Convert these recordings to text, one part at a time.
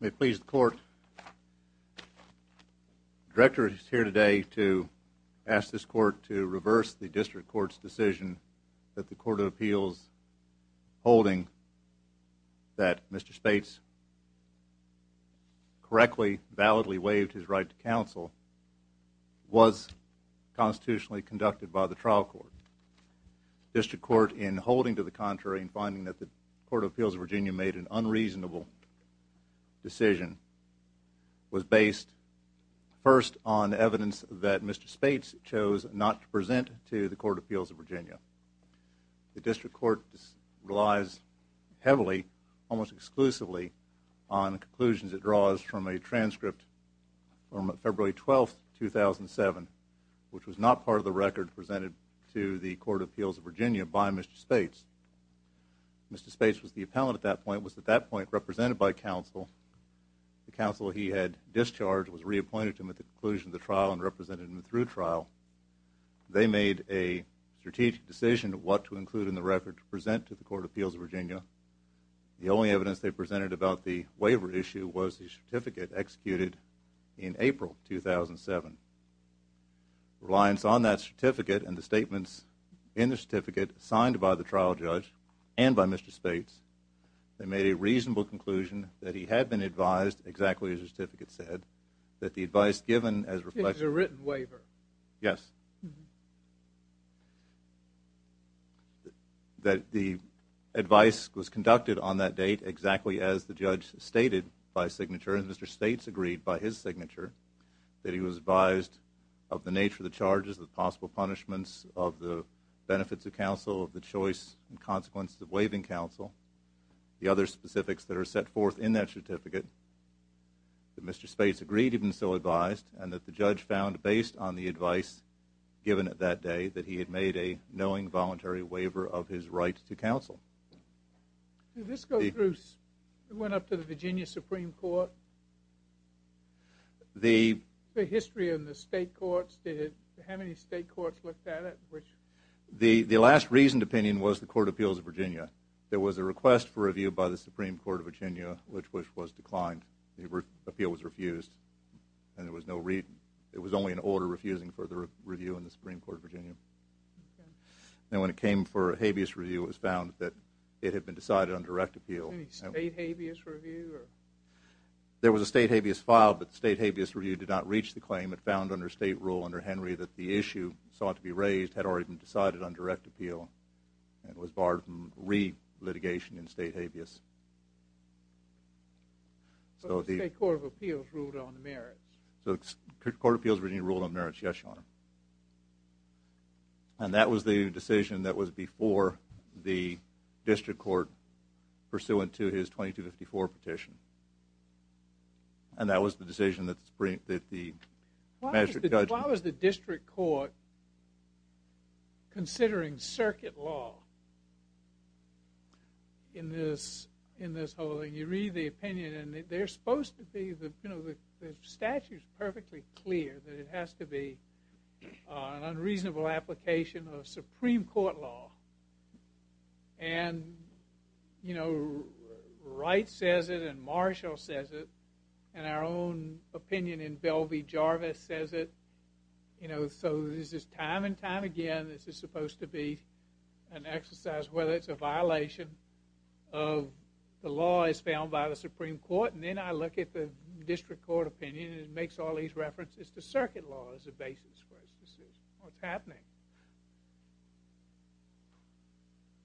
May it please the Court, the Director is here today to ask this Court to reverse the District Court's decision that the Court of Appeals holding that Mr. Spates correctly, validly waived his right to counsel was constitutionally conducted by the trial court. The District Court in holding to the contrary and finding that the Court of Appeals of Virginia made an unreasonable decision was based first on evidence that Mr. Spates chose not to present to the Court of Appeals of Virginia. The District Court relies heavily, almost exclusively, on conclusions it draws from a transcript from February 12, 2007, which was not part of the record presented to the Court of Appeals of Virginia by Mr. Spates. Mr. Spates was the appellant at that point, was at that point represented by counsel. The counsel he had discharged was reappointed to him at the conclusion of the trial and represented him through trial. They made a strategic decision of what to include in the record to present to the Court of Appeals of Virginia. The only evidence they presented about the waiver issue was the certificate executed in April 2007. Reliance on that certificate and the statements in the certificate signed by the trial judge and by Mr. Spates, they made a reasonable conclusion that he had been advised, exactly as the certificate said, that the advice given waiver. Yes. That the advice was conducted on that date exactly as the judge stated by signature and Mr. Spates agreed by his signature that he was advised of the nature of the charges, the possible punishments of the benefits of counsel, of the choice and consequences of waiving counsel, the other specifics that are set forth in that certificate, that Mr. Spates, that the judge found based on the advice given at that day that he had made a knowing voluntary waiver of his right to counsel. Did this go through, went up to the Virginia Supreme Court? The history of the state courts, did, how many state courts looked at it? The last reasoned opinion was the Court of Appeals of Virginia. There was a request for review by the Supreme Court of Virginia, which was declined. The appeal was refused and there was no reason, it was only an order refusing for the review in the Supreme Court of Virginia. And when it came for a habeas review, it was found that it had been decided on direct appeal. Any state habeas review? There was a state habeas filed, but the state habeas review did not reach the claim. It found under state rule under Henry that the issue sought to be raised had already been decided on direct appeal and was barred from any litigation in state habeas. So the State Court of Appeals ruled on the merits? So the Court of Appeals of Virginia ruled on merits, yes, Your Honor. And that was the decision that was before the district court pursuant to his 2254 petition. And that was the decision that the district court considering circuit law in this whole thing. You read the opinion and they're supposed to be, the statute is perfectly clear that it has to be an unreasonable application of Supreme Court law. And, you know, Wright says it and Marshall says it and our own opinion in Bell v. Jarvis says it, you know, so this is time and time again this is supposed to be an exercise whether it's a violation of the law as found by the Supreme Court. And then I look at the district court opinion and it makes all these references to circuit law as a basis for this decision. What's happening?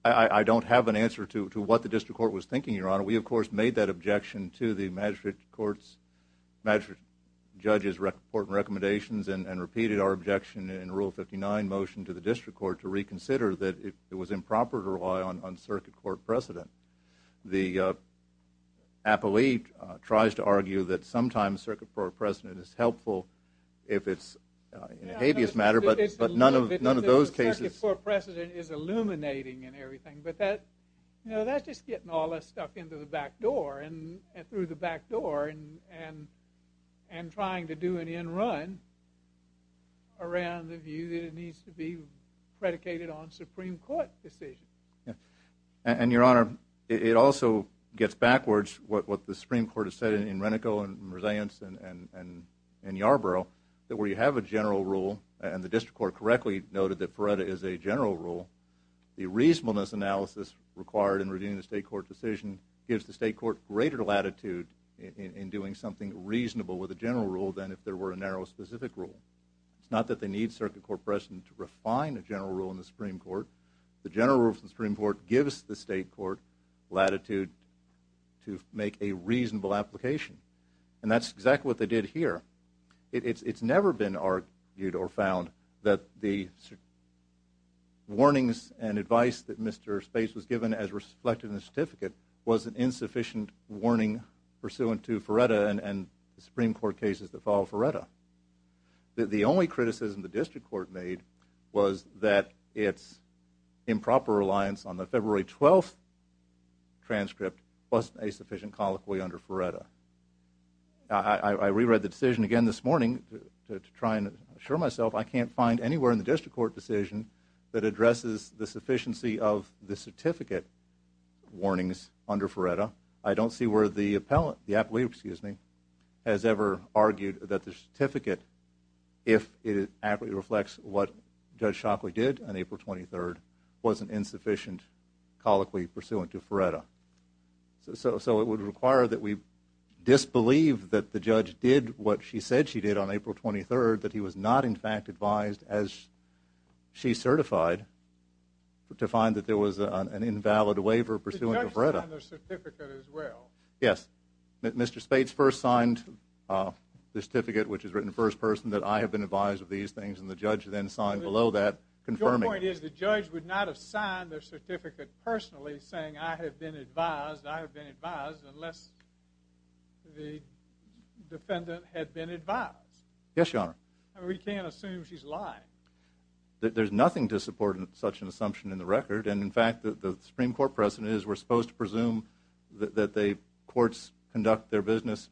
I don't have an answer to what the district court was thinking, Your Honor. We, of course, made that objection to the magistrate court's, magistrate judge's important recommendations and repeated our objection in Rule 59 motion to the district court to reconsider that it was improper to rely on circuit court precedent. The appellee tries to argue that sometimes circuit court precedent is helpful if it's in a habeas matter but none of those cases. Circuit court precedent is illuminating and everything but that, you know, that's just getting all that stuff into the back door and through the back door and trying to do an end run around the view that it needs to be predicated on Supreme Court decisions. And, Your Honor, it also gets backwards what the Supreme Court has said in Renico and Mersaience and Yarborough that where you have a general rule and the district court correctly noted that Feretta is a general rule, the reasonableness analysis required in reviewing the state court decision gives the state court greater latitude in doing something reasonable with a general rule than if there were a narrow specific rule. It's not that they need circuit court precedent to refine a general rule in the Supreme Court. The general rule of the Supreme Court gives the state court latitude to make a reasonable application. And that's exactly what they did here. It's never been argued or found that the warnings and advice that Mr. Space was given as reflected in the certificate was an insufficient warning pursuant to Feretta and the Supreme Court cases that follow Feretta. The only criticism the district court made was that it's improper reliance on the February 12th transcript wasn't a sufficient colloquy under Feretta. I reread the decision again this morning to try and assure myself I can't find anywhere in the district court decision that addresses the sufficiency of the certificate warnings under Feretta. I don't see where the appellant, has ever argued that the certificate, if it accurately reflects what Judge Shockley did on April 23rd, was an insufficient colloquy pursuant to Feretta. So it would require that we disbelieve that the judge did what she said she did on April 23rd, that he was not in fact advised as she certified to find that there was an invalid waiver pursuant to Feretta. Yes, Mr. Spates first signed the certificate which is written first person that I have been advised of these things and the judge then signed below that confirming. Your point is the judge would not have signed their certificate personally saying I have been advised, I have been advised, unless the defendant had been advised. Yes, Your Honor. We can't assume she's lying. There's nothing to support such an assumption in the record and in fact the Supreme Court precedent is we're going to assume that the courts conduct their business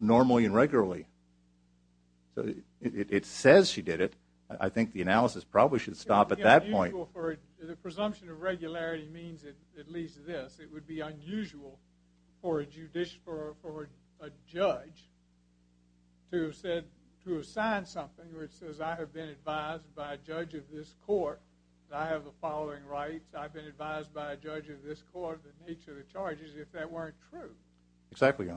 normally and regularly. So it says she did it. I think the analysis probably should stop at that point. The presumption of regularity means at least this, it would be unusual for a judge to have said, to have signed something where it says I have been advised by a judge of this court that I have the following rights, I've been advised by a judge of this court the nature of the charges if that weren't true. Exactly, Your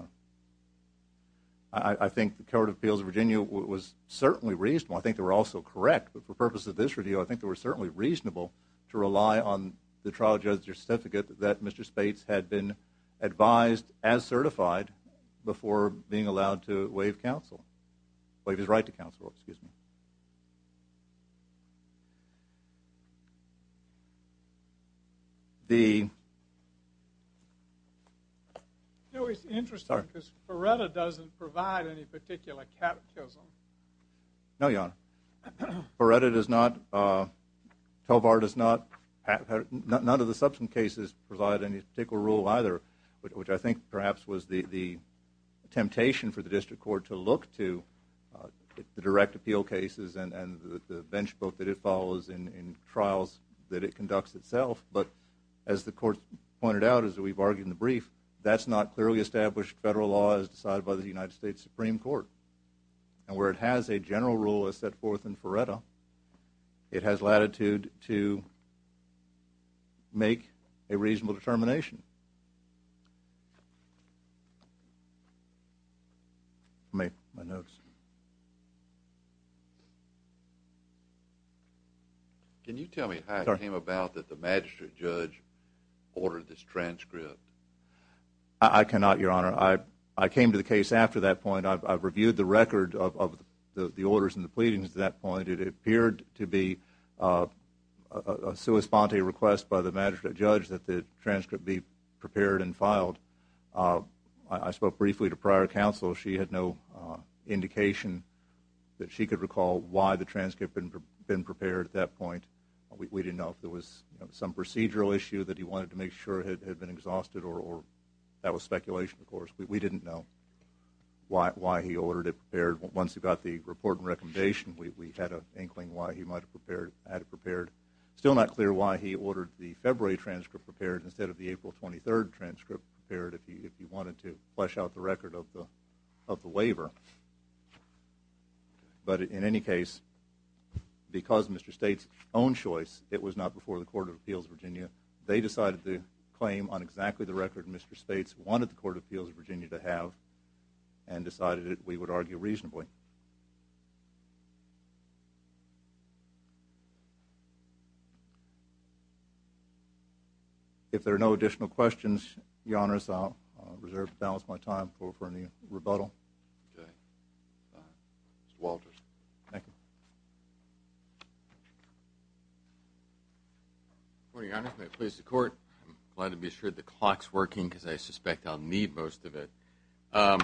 Honor. I think the Court of Appeals of Virginia was certainly reasonable, I think they were also correct, but for purpose of this review I think they were certainly reasonable to rely on the trial judge's certificate that Mr. Spates had been advised as certified before being allowed to waive counsel, waive his right to counsel, excuse me. No, it's interesting because Ferretta doesn't provide any particular catechism. No, Your Honor. Ferretta does not, Tovar does not, none of the subsequent cases provide any particular rule either, which I think perhaps was the temptation for the cases and the benchmark that it follows in trials that it conducts itself, but as the Court pointed out as we've argued in the brief, that's not clearly established federal law as decided by the United States Supreme Court. And where it has a general rule as set forth in Ferretta, it has my notes. Can you tell me how it came about that the magistrate judge ordered this transcript? I cannot, Your Honor. I came to the case after that point. I've reviewed the record of the orders and the pleadings at that point. It appeared to be a sua sponte request by the magistrate judge that the transcript be prepared at that point. We didn't know if there was some procedural issue that he wanted to make sure had been exhausted or that was speculation, of course. We didn't know why he ordered it prepared. Once we got the report and recommendation, we had an inkling why he might have had it prepared. Still not clear why he ordered it prepared. But in any case, because of Mr. States' own choice, it was not before the Court of Appeals of Virginia. They decided to claim on exactly the record Mr. States wanted the Court of Appeals of Virginia to have and decided that we would argue reasonably. If there are no additional questions, Your Honor, I'll reserve the balance of my time for any rebuttal. Mr. Walters. Thank you. Good morning, Your Honor. May it please the Court. I'm glad to be assured the clock's working because I suspect I'll need most of it. I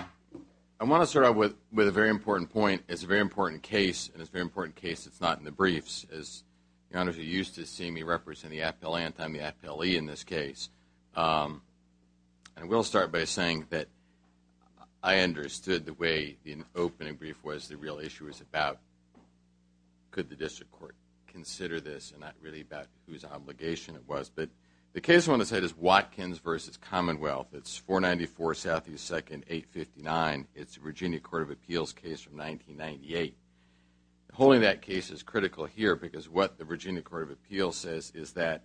want to start out with a very important point. It's a very important case, and it's a very important case because it's not in the briefs. As Your Honor, you're used to seeing me represent the appellant, I'm the appellee in this case. I will start by saying that I understood the way the opening brief was, the real issue was about could the District Court consider this and not really about whose obligation it was. But the case I want to say is Watkins v. Commonwealth. It's 494 Southeast 2nd, 859. It's a Virginia Court of Appeals case from 1998. Holding that case is critical here because what the Virginia Court of Appeals says is that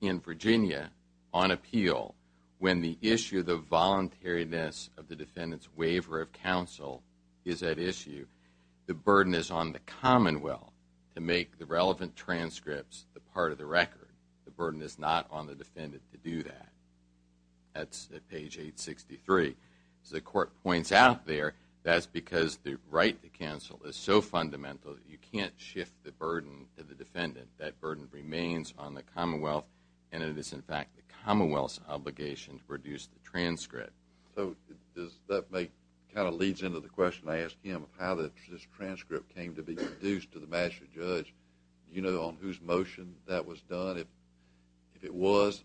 in Virginia, on appeal, when the issue of the voluntariness of the defendant's waiver of counsel is at issue, the burden is on the Commonwealth to make the relevant transcripts the part of the record. The burden is not on the defendant to do that. That's at page 863. As the Court points out there, that's because the right to counsel is so fundamental that you can't shift the burden to the defendant. That burden remains on the Commonwealth, and it is in fact the Commonwealth's obligation to produce the transcript. So that kind of leads into the question I asked him of how this transcript came to be produced to the Master Judge. Do you know on whose motion that was done, if it was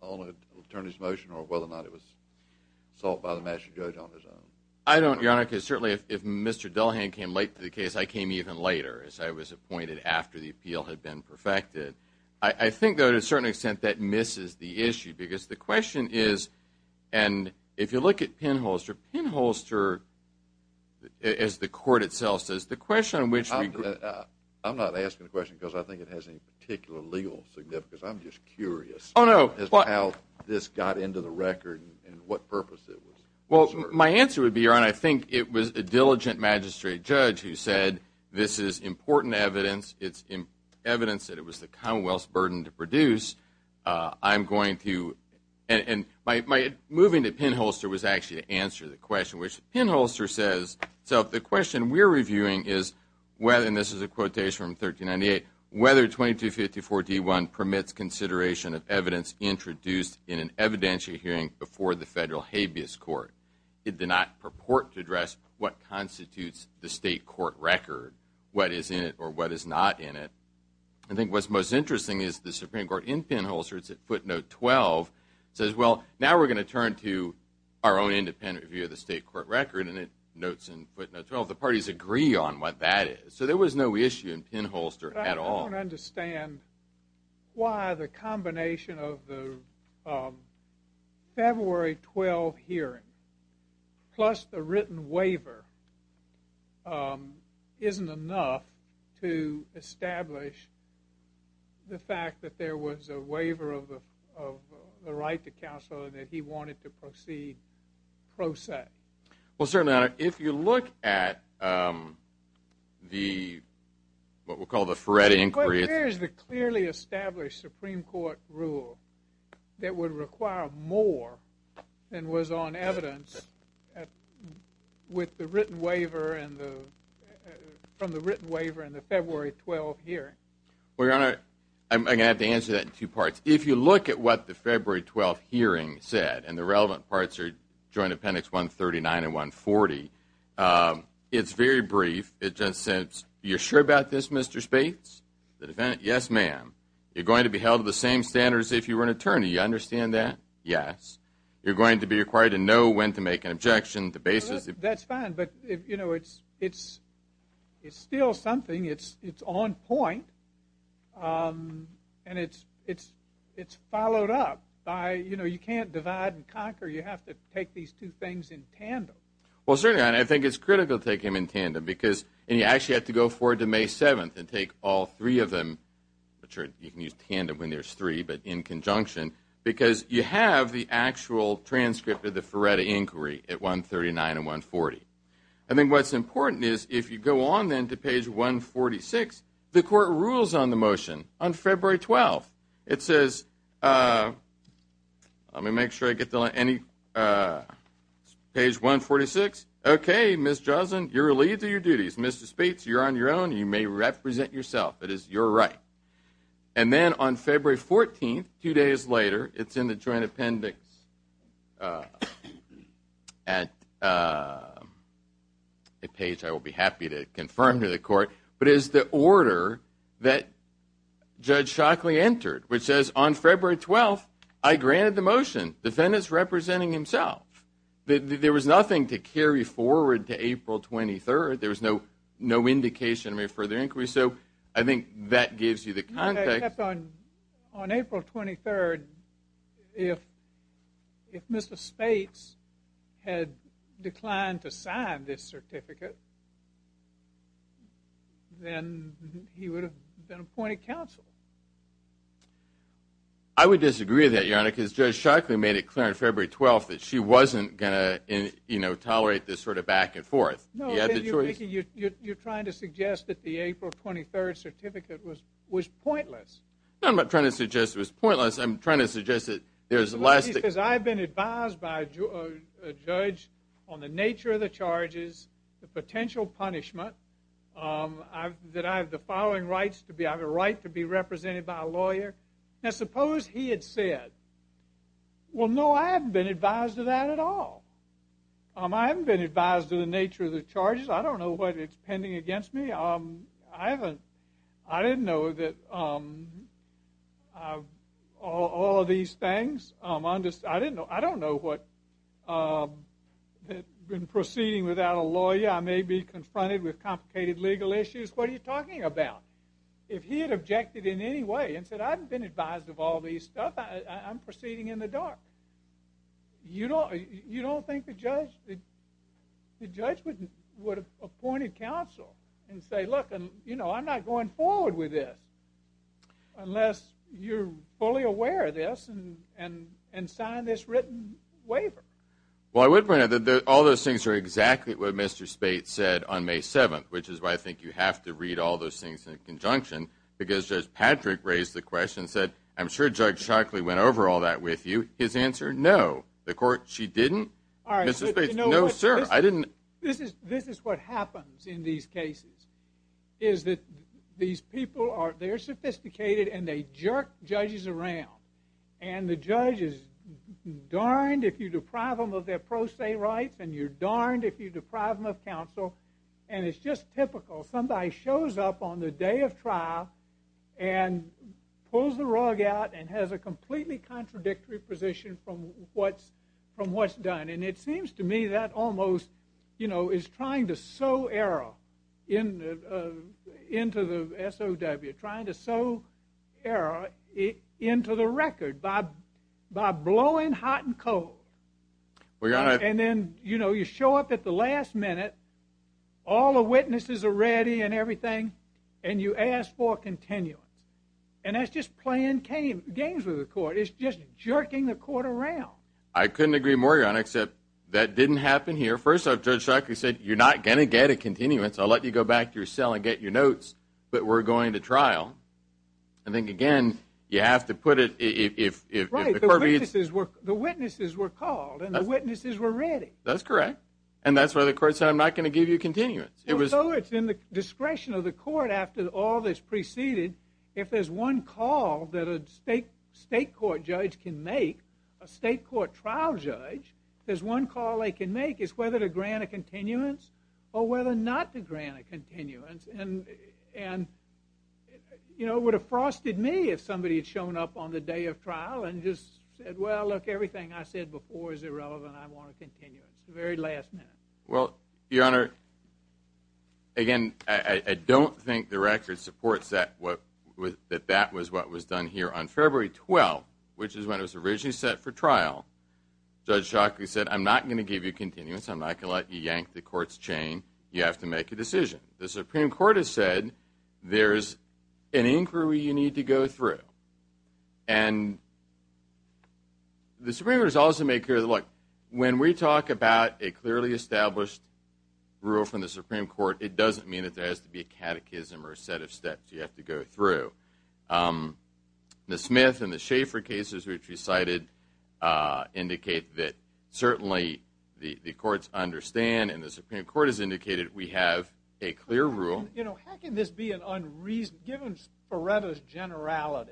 on an attorney's motion or whether or not it was sought by the Master Judge on his own? I don't, Your Honor, because certainly if Mr. Dullahan came late to the case, I came even later, as I was appointed after the appeal had been perfected. I think, though, to a certain extent, that misses the issue because the question is, and if you look at Penholster, Penholster, as the Court itself says, the question on which we – I'm not asking the question because I think it has any particular legal significance. I'm just curious as to how this got into the record and what purpose it was. Well, my answer would be, Your Honor, I think it was a diligent magistrate judge who said this is important evidence. It's evidence that it was the Commonwealth's burden to produce. I'm going to – and my – moving to Penholster was actually to answer the question, which Penholster says – so the question we're reviewing is whether, and this is a quotation from 1398, whether 2254 D1 permits consideration of evidence introduced in an evidentiary hearing before the federal habeas court. It did not purport to address what constitutes the state court record, what is in it or what is not in it. I think what's most interesting is the Supreme Court in Penholster, it's at footnote 12, says, well, now we're going to turn to our own independent review of the state court record, and it notes in footnote 12 the parties agree on what that is. So there was no issue in Penholster at all. I don't understand why the combination of the February 12 hearing plus the written waiver isn't enough to establish the fact that there was a waiver of the right to counsel and that he wanted to proceed pro se. Well, certainly, Your Honor, if you look at the – what we'll call the Ferretti inquiry – But here's the clearly established Supreme Court rule that would require more than was on evidence with the written waiver and the – from the written waiver and the February 12 hearing. Well, Your Honor, I'm going to have to answer that in two parts. If you look at what the February 12 hearing said, and the relevant parts are Joint Appendix 139 and 140, it's very brief. It just says, you're sure about this, Mr. Spates? The defendant, yes, ma'am. You're going to be held to the same standards if you were an attorney. You understand that? Yes. You're going to be required to know when to make an objection, the basis – That's fine, but, you know, it's still something. It's on point, and it's followed up by, you know, you can't divide and conquer. You have to take these two things in tandem. Well, certainly, Your Honor, I think it's critical to take them in tandem because – and you actually have to go forward to May 7th and take all three of them. Sure, you can use tandem when there's three, but in conjunction because you have the actual transcript of the Feretta inquiry at 139 and 140. I think what's important is if you go on then to page 146, the court rules on the motion on February 12th. It says – let me make sure I get the – page 146. Okay, Ms. Joslin, you're relieved of your duties. Mr. Spates, you're on your own. You may represent yourself. It is your right. And then on February 14th, two days later, it's in the joint appendix at a page I will be happy to confirm to the court, but it is the order that Judge Shockley entered, which says on February 12th, I granted the motion. The defendant's representing himself. There was nothing to carry forward to April 23rd. There was no indication of a further inquiry. So I think that gives you the context. Except on April 23rd, if Mr. Spates had declined to sign this certificate, then he would have been appointed counsel. I would disagree with that, Your Honor, because Judge Shockley made it clear on February 12th that she wasn't going to, you know, tolerate this sort of back and forth. No, but you're trying to suggest that the April 23rd certificate was pointless. No, I'm not trying to suggest it was pointless. I'm trying to suggest that there's lasting – Because I've been advised by a judge on the nature of the charges, the potential punishment, that I have the following rights to be – I have a right to be represented by a lawyer. Now, suppose he had said, well, no, I haven't been advised of that at all. I haven't been advised of the nature of the charges. I don't know what it's pending against me. I haven't – I didn't know that all of these things – I don't know what – that in proceeding without a lawyer, I may be confronted with complicated legal issues. What are you talking about? If he had objected in any way and said, I haven't been advised of all these stuff, I'm proceeding in the dark. You don't think the judge would have appointed counsel and say, look, you know, I'm not going forward with this unless you're fully aware of this and sign this written waiver. Well, I would point out that all those things are exactly what Mr. Spate said on May 7th, which is why I think you have to read all those things in conjunction, because Judge Patrick raised the question and said, I'm sure Judge Shockley went over all that with you. His answer, no. The court, she didn't. All right. No, sir. I didn't – This is what happens in these cases, is that these people are – they're sophisticated and they jerk judges around. And the judge is darned if you deprive them of their pro se rights and you're darned if you deprive them of counsel. And it's just typical. Somebody shows up on the day of trial and pulls the rug out and has a completely contradictory position from what's done. And it seems to me that almost, you know, is trying to sow error into the SOW, trying to sow error into the record by blowing hot and cold. And then, you know, you show up at the last minute. All the witnesses are ready and everything, and you ask for a continuance. And that's just playing games with the court. It's just jerking the court around. I couldn't agree more, John, except that didn't happen here. First off, Judge Shockley said, you're not going to get a continuance. I'll let you go back to your cell and get your notes, but we're going to trial. I think, again, you have to put it – if the court reads – Right. The witnesses were called and the witnesses were ready. That's correct. And that's why the court said, I'm not going to give you a continuance. And so it's in the discretion of the court after all that's preceded. If there's one call that a state court judge can make, a state court trial judge, if there's one call they can make, it's whether to grant a continuance or whether not to grant a continuance. And, you know, it would have frosted me if somebody had shown up on the day of trial and just said, well, look, everything I said before is irrelevant. I want a continuance. Very last minute. Well, Your Honor, again, I don't think the record supports that that that was what was done here on February 12th, which is when it was originally set for trial. Judge Shockley said, I'm not going to give you a continuance. I'm not going to let you yank the court's chain. You have to make a decision. The Supreme Court has said there's an inquiry you need to go through. And the Supreme Court has also made clear that, look, when we talk about a clearly established rule from the Supreme Court, it doesn't mean that there has to be a catechism or a set of steps you have to go through. The Smith and the Schaefer cases, which you cited, indicate that certainly the courts understand and the Supreme Court has indicated we have a clear rule. You know, how can this be an unreason? Given Feretta's generality,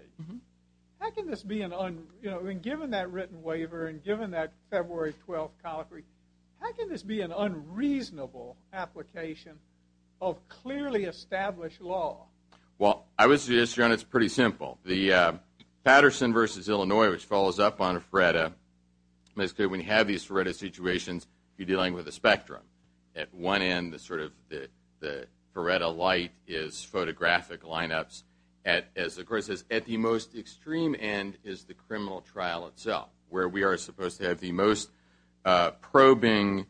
how can this be an unreason? You know, and given that written waiver and given that February 12th colloquy, how can this be an unreasonable application of clearly established law? Well, I would suggest, John, it's pretty simple. The Patterson v. Illinois, which follows up on Feretta, basically when you have these Feretta situations, you're dealing with a spectrum. At one end, the sort of the Feretta light is photographic lineups. As the Court says, at the most extreme end is the criminal trial itself, where we are supposed to have the most probing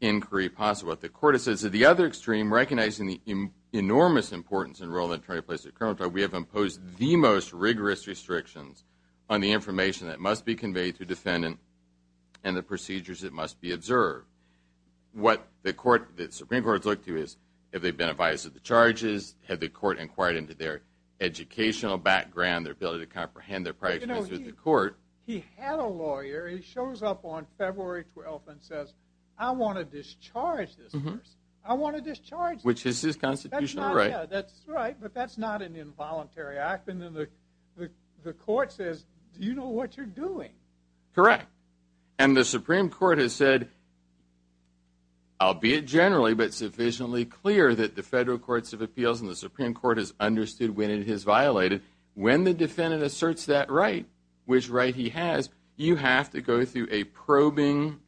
inquiry possible. What the Court has said is at the other extreme, recognizing the enormous importance in the role that an attorney plays in a criminal trial, we have imposed the most rigorous restrictions on the information that must be conveyed to a defendant and the procedures that must be observed. What the Supreme Court has looked to is have they been advised of the charges, have the Court inquired into their educational background, their ability to comprehend their prior experience with the Court. He had a lawyer. He shows up on February 12th and says, I want to discharge this person. I want to discharge him. Which is his constitutional right. That's right, but that's not an involuntary act. And then the Court says, do you know what you're doing? Correct. And the Supreme Court has said, albeit generally, but sufficiently clear that the Federal Courts of Appeals and the Supreme Court has understood when it is violated. When the defendant asserts that right, which right he has, you have to go through a probing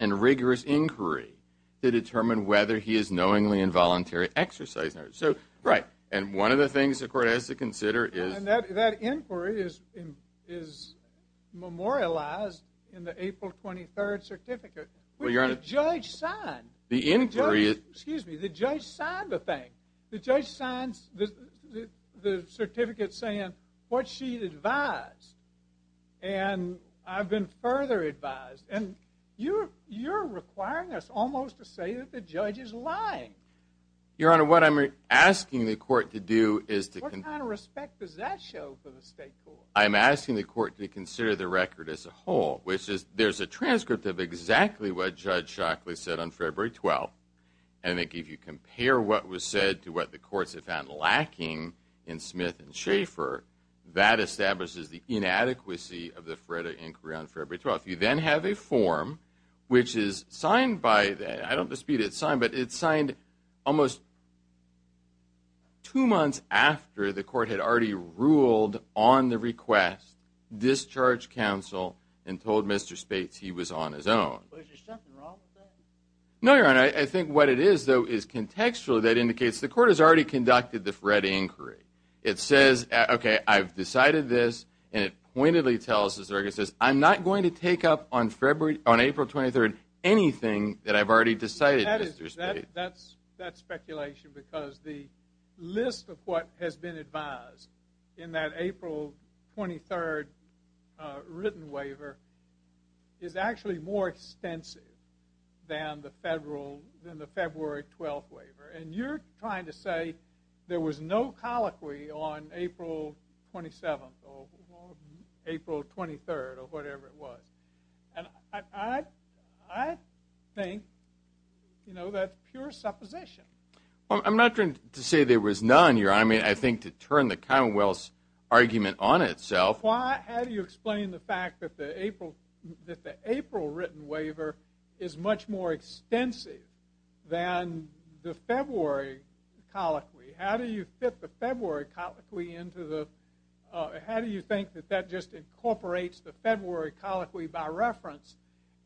and rigorous inquiry to determine whether he is knowingly involuntary exercising it. So, right. And one of the things the Court has to consider is... And that inquiry is memorialized in the April 23rd certificate, which the judge signed. The inquiry is... Excuse me, the judge signed the thing. The judge signs the certificate saying what she advised. And I've been further advised. And you're requiring us almost to say that the judge is lying. Your Honor, what I'm asking the Court to do is to... What kind of respect does that show for the State Court? I'm asking the Court to consider the record as a whole, which is there's a transcript of exactly what Judge Shockley said on February 12th. And I think if you compare what was said to what the courts have found lacking in Smith and Schaeffer, that establishes the inadequacy of the FREDA inquiry on February 12th. You then have a form, which is signed by... I don't dispute it's signed, but it's signed almost two months after the Court had already ruled on the request, discharged counsel, and told Mr. Spates he was on his own. Is there something wrong with that? No, Your Honor. I think what it is, though, is contextually that indicates the Court has already conducted the FREDA inquiry. It says, okay, I've decided this, and it pointedly tells the circuit, it says I'm not going to take up on April 23rd anything that I've already decided, Mr. Spates. That's speculation because the list of what has been advised in that April 23rd written waiver is actually more extensive than the February 12th waiver. And you're trying to say there was no colloquy on April 27th or April 23rd or whatever it was. And I think, you know, that's pure supposition. I'm not trying to say there was none, Your Honor. I mean, I think to turn the Commonwealth's argument on itself... How do you explain the fact that the April written waiver is much more extensive than the February colloquy? How do you fit the February colloquy into the... How do you think that that just incorporates the February colloquy by reference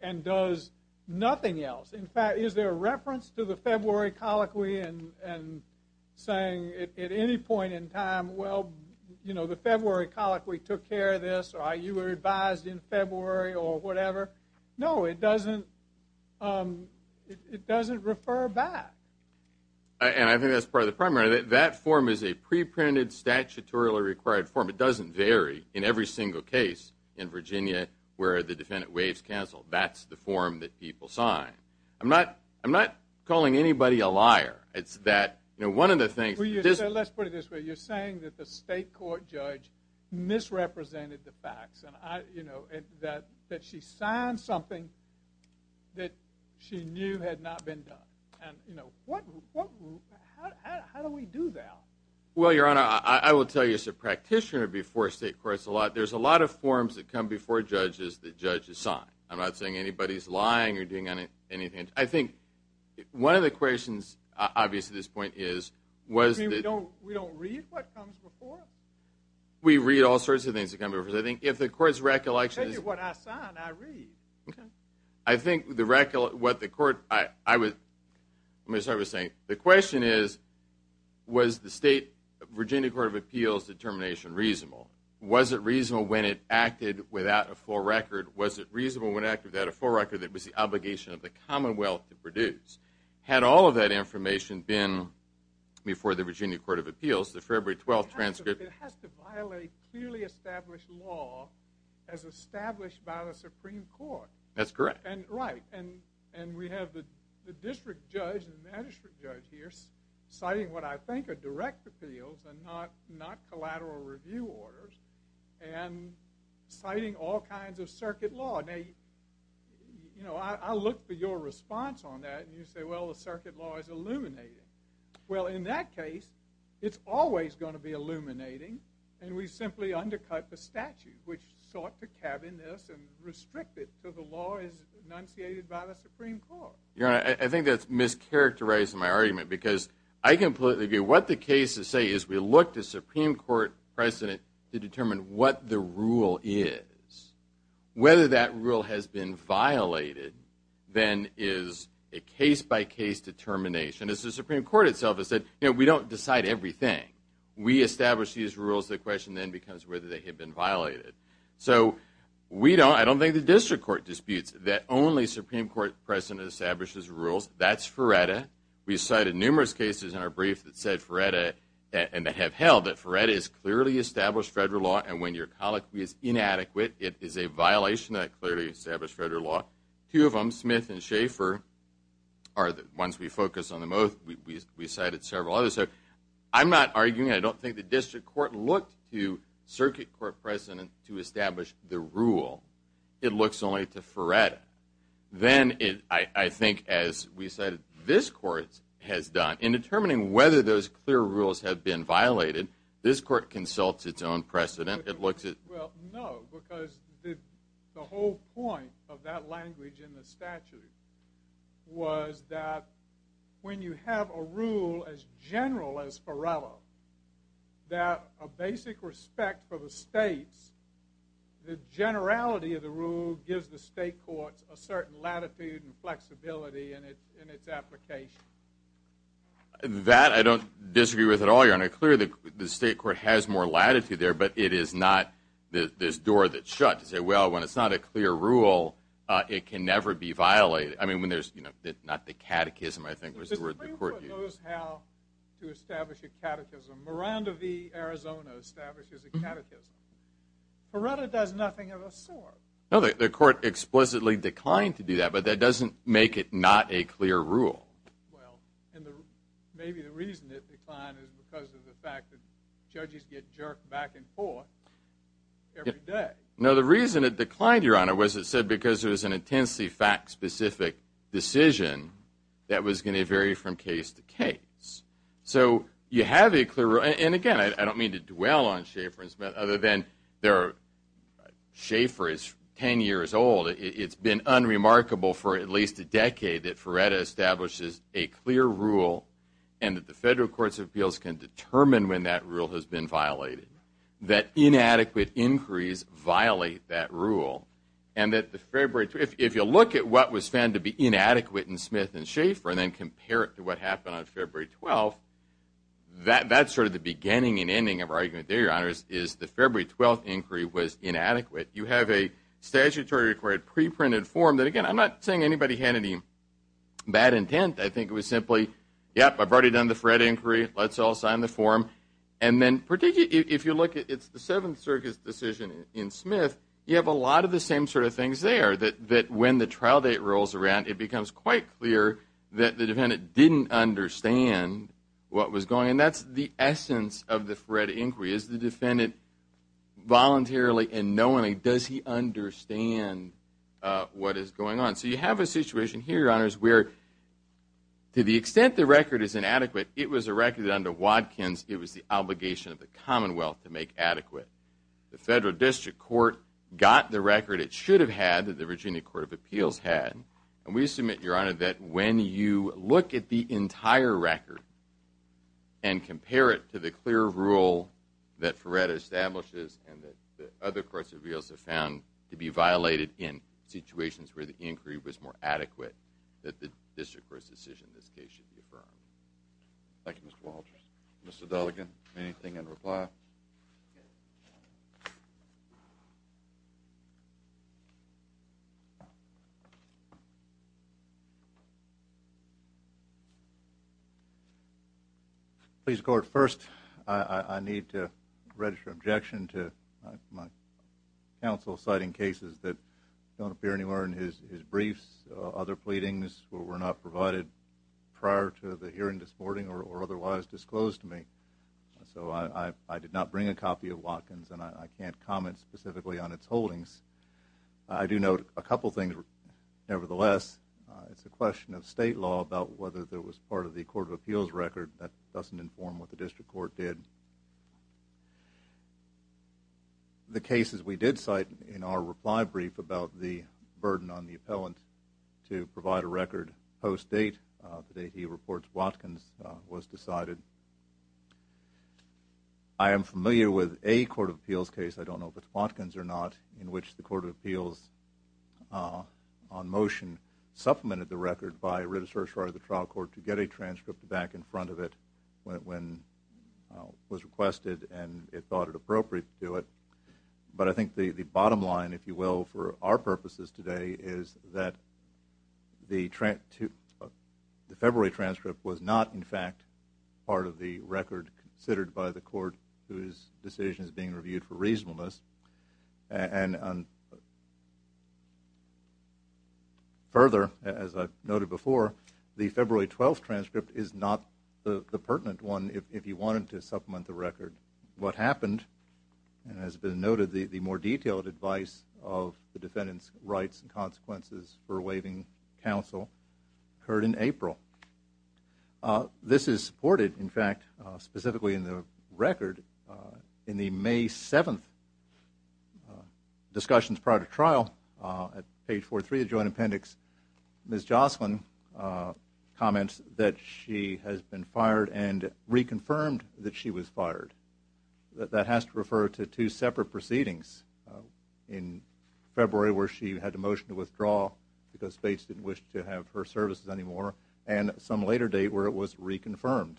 and does nothing else? In fact, is there a reference to the February colloquy and saying at any point in time, well, you know, the February colloquy took care of this or you were advised in February or whatever? No, it doesn't refer back. And I think that's part of the problem. That form is a pre-printed statutorily required form. It doesn't vary in every single case in Virginia where the defendant waives counsel. That's the form that people sign. I'm not calling anybody a liar. It's that, you know, one of the things... Let's put it this way. You're saying that the state court judge misrepresented the facts and, you know, that she signed something that she knew had not been done. And, you know, what... How do we do that? Well, Your Honor, I will tell you as a practitioner before state courts a lot, there's a lot of forms that come before judges that judges sign. I'm not saying anybody's lying or doing anything. I think one of the questions, obviously, at this point is was that... We read all sorts of things that come before us. I think if the court's recollection is... I tell you what I sign, I read. I think what the court... I was... Let me start by saying the question is was the state Virginia Court of Appeals determination reasonable? Was it reasonable when it acted without a full record? Was it reasonable when it acted without a full record that it was the obligation of the Commonwealth to produce? Had all of that information been before the Virginia Court of Appeals, the February 12th transcript? It has to violate clearly established law as established by the Supreme Court. That's correct. Right, and we have the district judge and the magistrate judge here citing what I think are direct appeals and not collateral review orders and citing all kinds of circuit law. Now, you know, I look for your response on that and you say, well, the circuit law is illuminating. Well, in that case, it's always going to be illuminating and we simply undercut the statute which sought to cabin this and restrict it to the law as enunciated by the Supreme Court. Your Honor, I think that's mischaracterizing my argument because I can... What the cases say is we look to Supreme Court precedent to determine what the rule is. Whether that rule has been violated then is a case-by-case determination. As the Supreme Court itself has said, you know, we don't decide everything. We establish these rules. The question then becomes whether they have been violated. So we don't... I don't think the district court disputes that only Supreme Court precedent establishes rules. That's Feretta. We cited numerous cases in our brief that said Feretta and that have held that Feretta is clearly established federal law and when your colloquy is inadequate, it is a violation of that clearly established federal law. Two of them, Smith and Schaefer, are the ones we focus on the most. We cited several others. I'm not arguing... I don't think the district court looked to circuit court precedent to establish the rule. It looks only to Feretta. Then I think, as we said, this court has done... In determining whether those clear rules have been violated, this court consults its own precedent. It looks at... Well, no, because the whole point of that language in the statute was that when you have a rule as general as Feretta, that a basic respect for the states, the generality of the rule gives the state courts a certain latitude and flexibility in its application. That I don't disagree with at all, Your Honor. Clearly, the state court has more latitude there, but it is not this door that's shut to say, well, when it's not a clear rule, it can never be violated. I mean, when there's... Not the catechism, I think was the word the court used. The Supreme Court knows how to establish a catechism. Miranda v. Arizona establishes a catechism. Feretta does nothing of the sort. No, the court explicitly declined to do that, but that doesn't make it not a clear rule. Well, and maybe the reason it declined is because of the fact that judges get jerked back and forth every day. No, the reason it declined, Your Honor, was it said because there was an intensely fact-specific decision that was going to vary from case to case. So you have a clear... And again, I don't mean to dwell on Schaeffer and Smith other than they're... Schaeffer is 10 years old. It's been unremarkable for at least a decade that Feretta establishes a clear rule and that the federal courts of appeals can determine when that rule has been violated. That inadequate inquiries violate that rule. And that the February... If you look at what was found to be inadequate in Smith and Schaeffer and then compare it to what happened on February 12th, that's sort of the beginning and ending of our argument there, Your Honors, is the February 12th inquiry was inadequate. You have a statutory-required pre-printed form that... Again, I'm not saying anybody had any bad intent. I think it was simply, yep, I've already done the Fred inquiry. Let's all sign the form. And then if you look at... It's the Seventh Circuit's decision in Smith. It's one of the things there, that when the trial date rolls around, it becomes quite clear that the defendant didn't understand what was going on. And that's the essence of the Feretta inquiry, is the defendant voluntarily and knowingly, does he understand what is going on? So you have a situation here, Your Honors, where to the extent the record is inadequate, it was a record under Watkins. It was the obligation of the Commonwealth to make adequate. The federal district court got the record. It should have had. The Virginia Court of Appeals had. And we submit, Your Honor, that when you look at the entire record and compare it to the clear rule that Feretta establishes and that other courts of appeals have found to be violated in situations where the inquiry was more adequate, that the district court's decision in this case should be affirmed. Thank you, Mr. Walters. Mr. Delegan, anything in reply? No. Please, Court, first I need to register objection to my counsel citing cases that don't appear anywhere in his briefs, other pleadings were not provided prior to the hearing this morning or otherwise disclosed to me. So I did not bring a copy of Watkins, and I can't comment specifically on its holdings. I do note a couple things, nevertheless. It's a question of state law about whether there was part of the court of appeals record. That doesn't inform what the district court did. The cases we did cite in our reply brief about the burden on the appellant to provide a record post-date, the date he reports Watkins, was decided. I am familiar with a court of appeals case, I don't know if it's Watkins or not, in which the court of appeals on motion supplemented the record by writ of certiorari of the trial court to get a transcript back in front of it when it was requested and it thought it appropriate to do it. But I think the bottom line, if you will, for our purposes today is that the February transcript was not, in fact, part of the record considered by the court whose decision is being reviewed for reasonableness. And further, as I noted before, the February 12th transcript is not the pertinent one if you wanted to supplement the record. What happened, and has been noted, the more detailed advice of the defendant's rights and consequences for waiving counsel occurred in April. This is supported, in fact, specifically in the record, in the May 7th discussions prior to trial. At page 43 of the joint appendix, Ms. Jocelyn comments that she has been fired and reconfirmed that she was fired. That has to refer to two separate proceedings in February where she had a motion to withdraw because Fates didn't wish to have her services anymore and some later date where it was reconfirmed.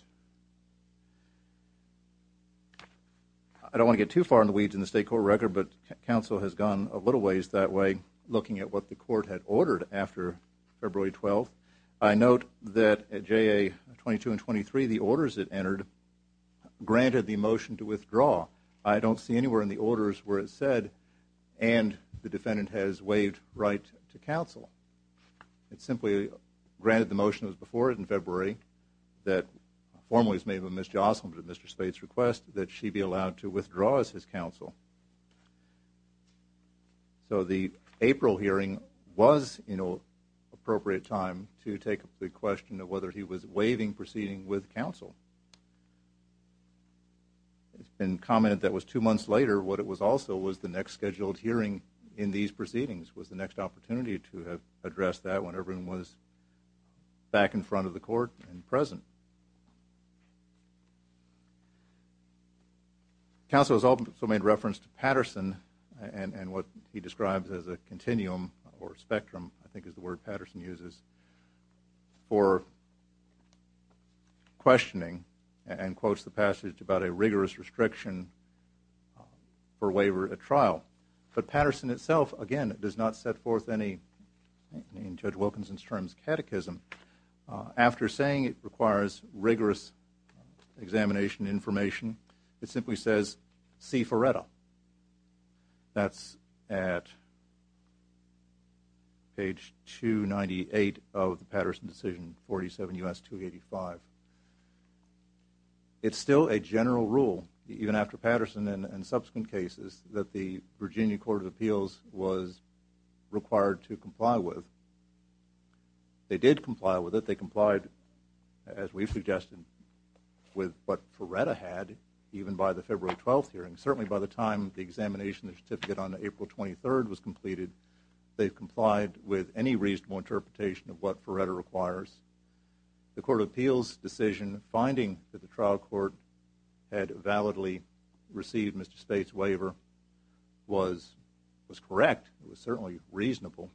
I don't want to get too far in the weeds in the state court record, and I've done a little ways that way looking at what the court had ordered after February 12th. I note that at JA 22 and 23, the orders it entered granted the motion to withdraw. I don't see anywhere in the orders where it said, and the defendant has waived right to counsel. It simply granted the motion that was before it in February that formally was made by Ms. Jocelyn but at Mr. Fates' request that she be allowed to withdraw as his counsel. So the April hearing was, you know, appropriate time to take up the question of whether he was waiving proceeding with counsel. It's been commented that was two months later what it was also was the next scheduled hearing in these proceedings was the next opportunity to address that when everyone was back in front of the court and present. Counsel has also made reference to Patterson and what he describes as a continuum or spectrum I think is the word Patterson uses for questioning and quotes the passage about a rigorous restriction for waiver at trial. But Patterson itself, again, does not set forth any, in Judge Wilkinson's terms, catechism after saying it requires rigorous examination information. It simply says C. Ferretta. That's at page 298 of the Patterson decision 47 U.S. 285. It's still a general rule even after Patterson and subsequent cases that the Virginia Court of Appeals was required to comply with. They did comply with it. They complied as we've suggested with what Ferretta had even by the February 12th hearing. Certainly by the time the examination of the certificate on April 23rd was completed they've complied with any reasonable interpretation of what Ferretta requires. The Court of Appeals decision finding that the trial court had validly received Mr. State's waiver was correct. It was certainly reasonable.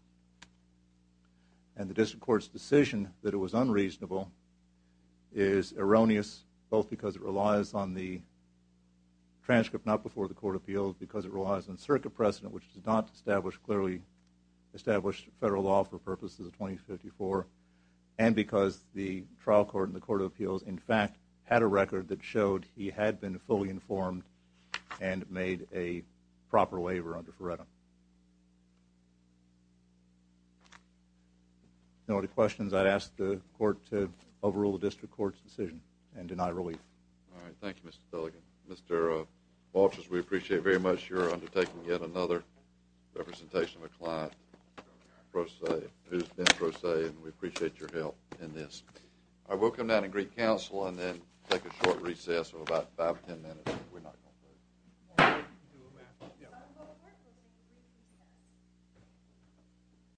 And the District Court's decision that it was unreasonable is erroneous both because it was a transcript not before the Court of Appeals, because it relies on circuit precedent which does not establish clearly established federal law for purposes of 2054 and because the trial court in the Court of Appeals in fact had a record that showed he had been fully informed and made a proper waiver under Ferretta. If there are no other questions I'd ask the Court to overrule the District Court's decision and deny relief. All right. Thank you, Mr. Delegate. Mr. Walters, we appreciate very much your undertaking yet another representation of a client who's been prosaic and we appreciate your help in this. I will come down and greet counsel and then take a short recess of about 5-10 minutes.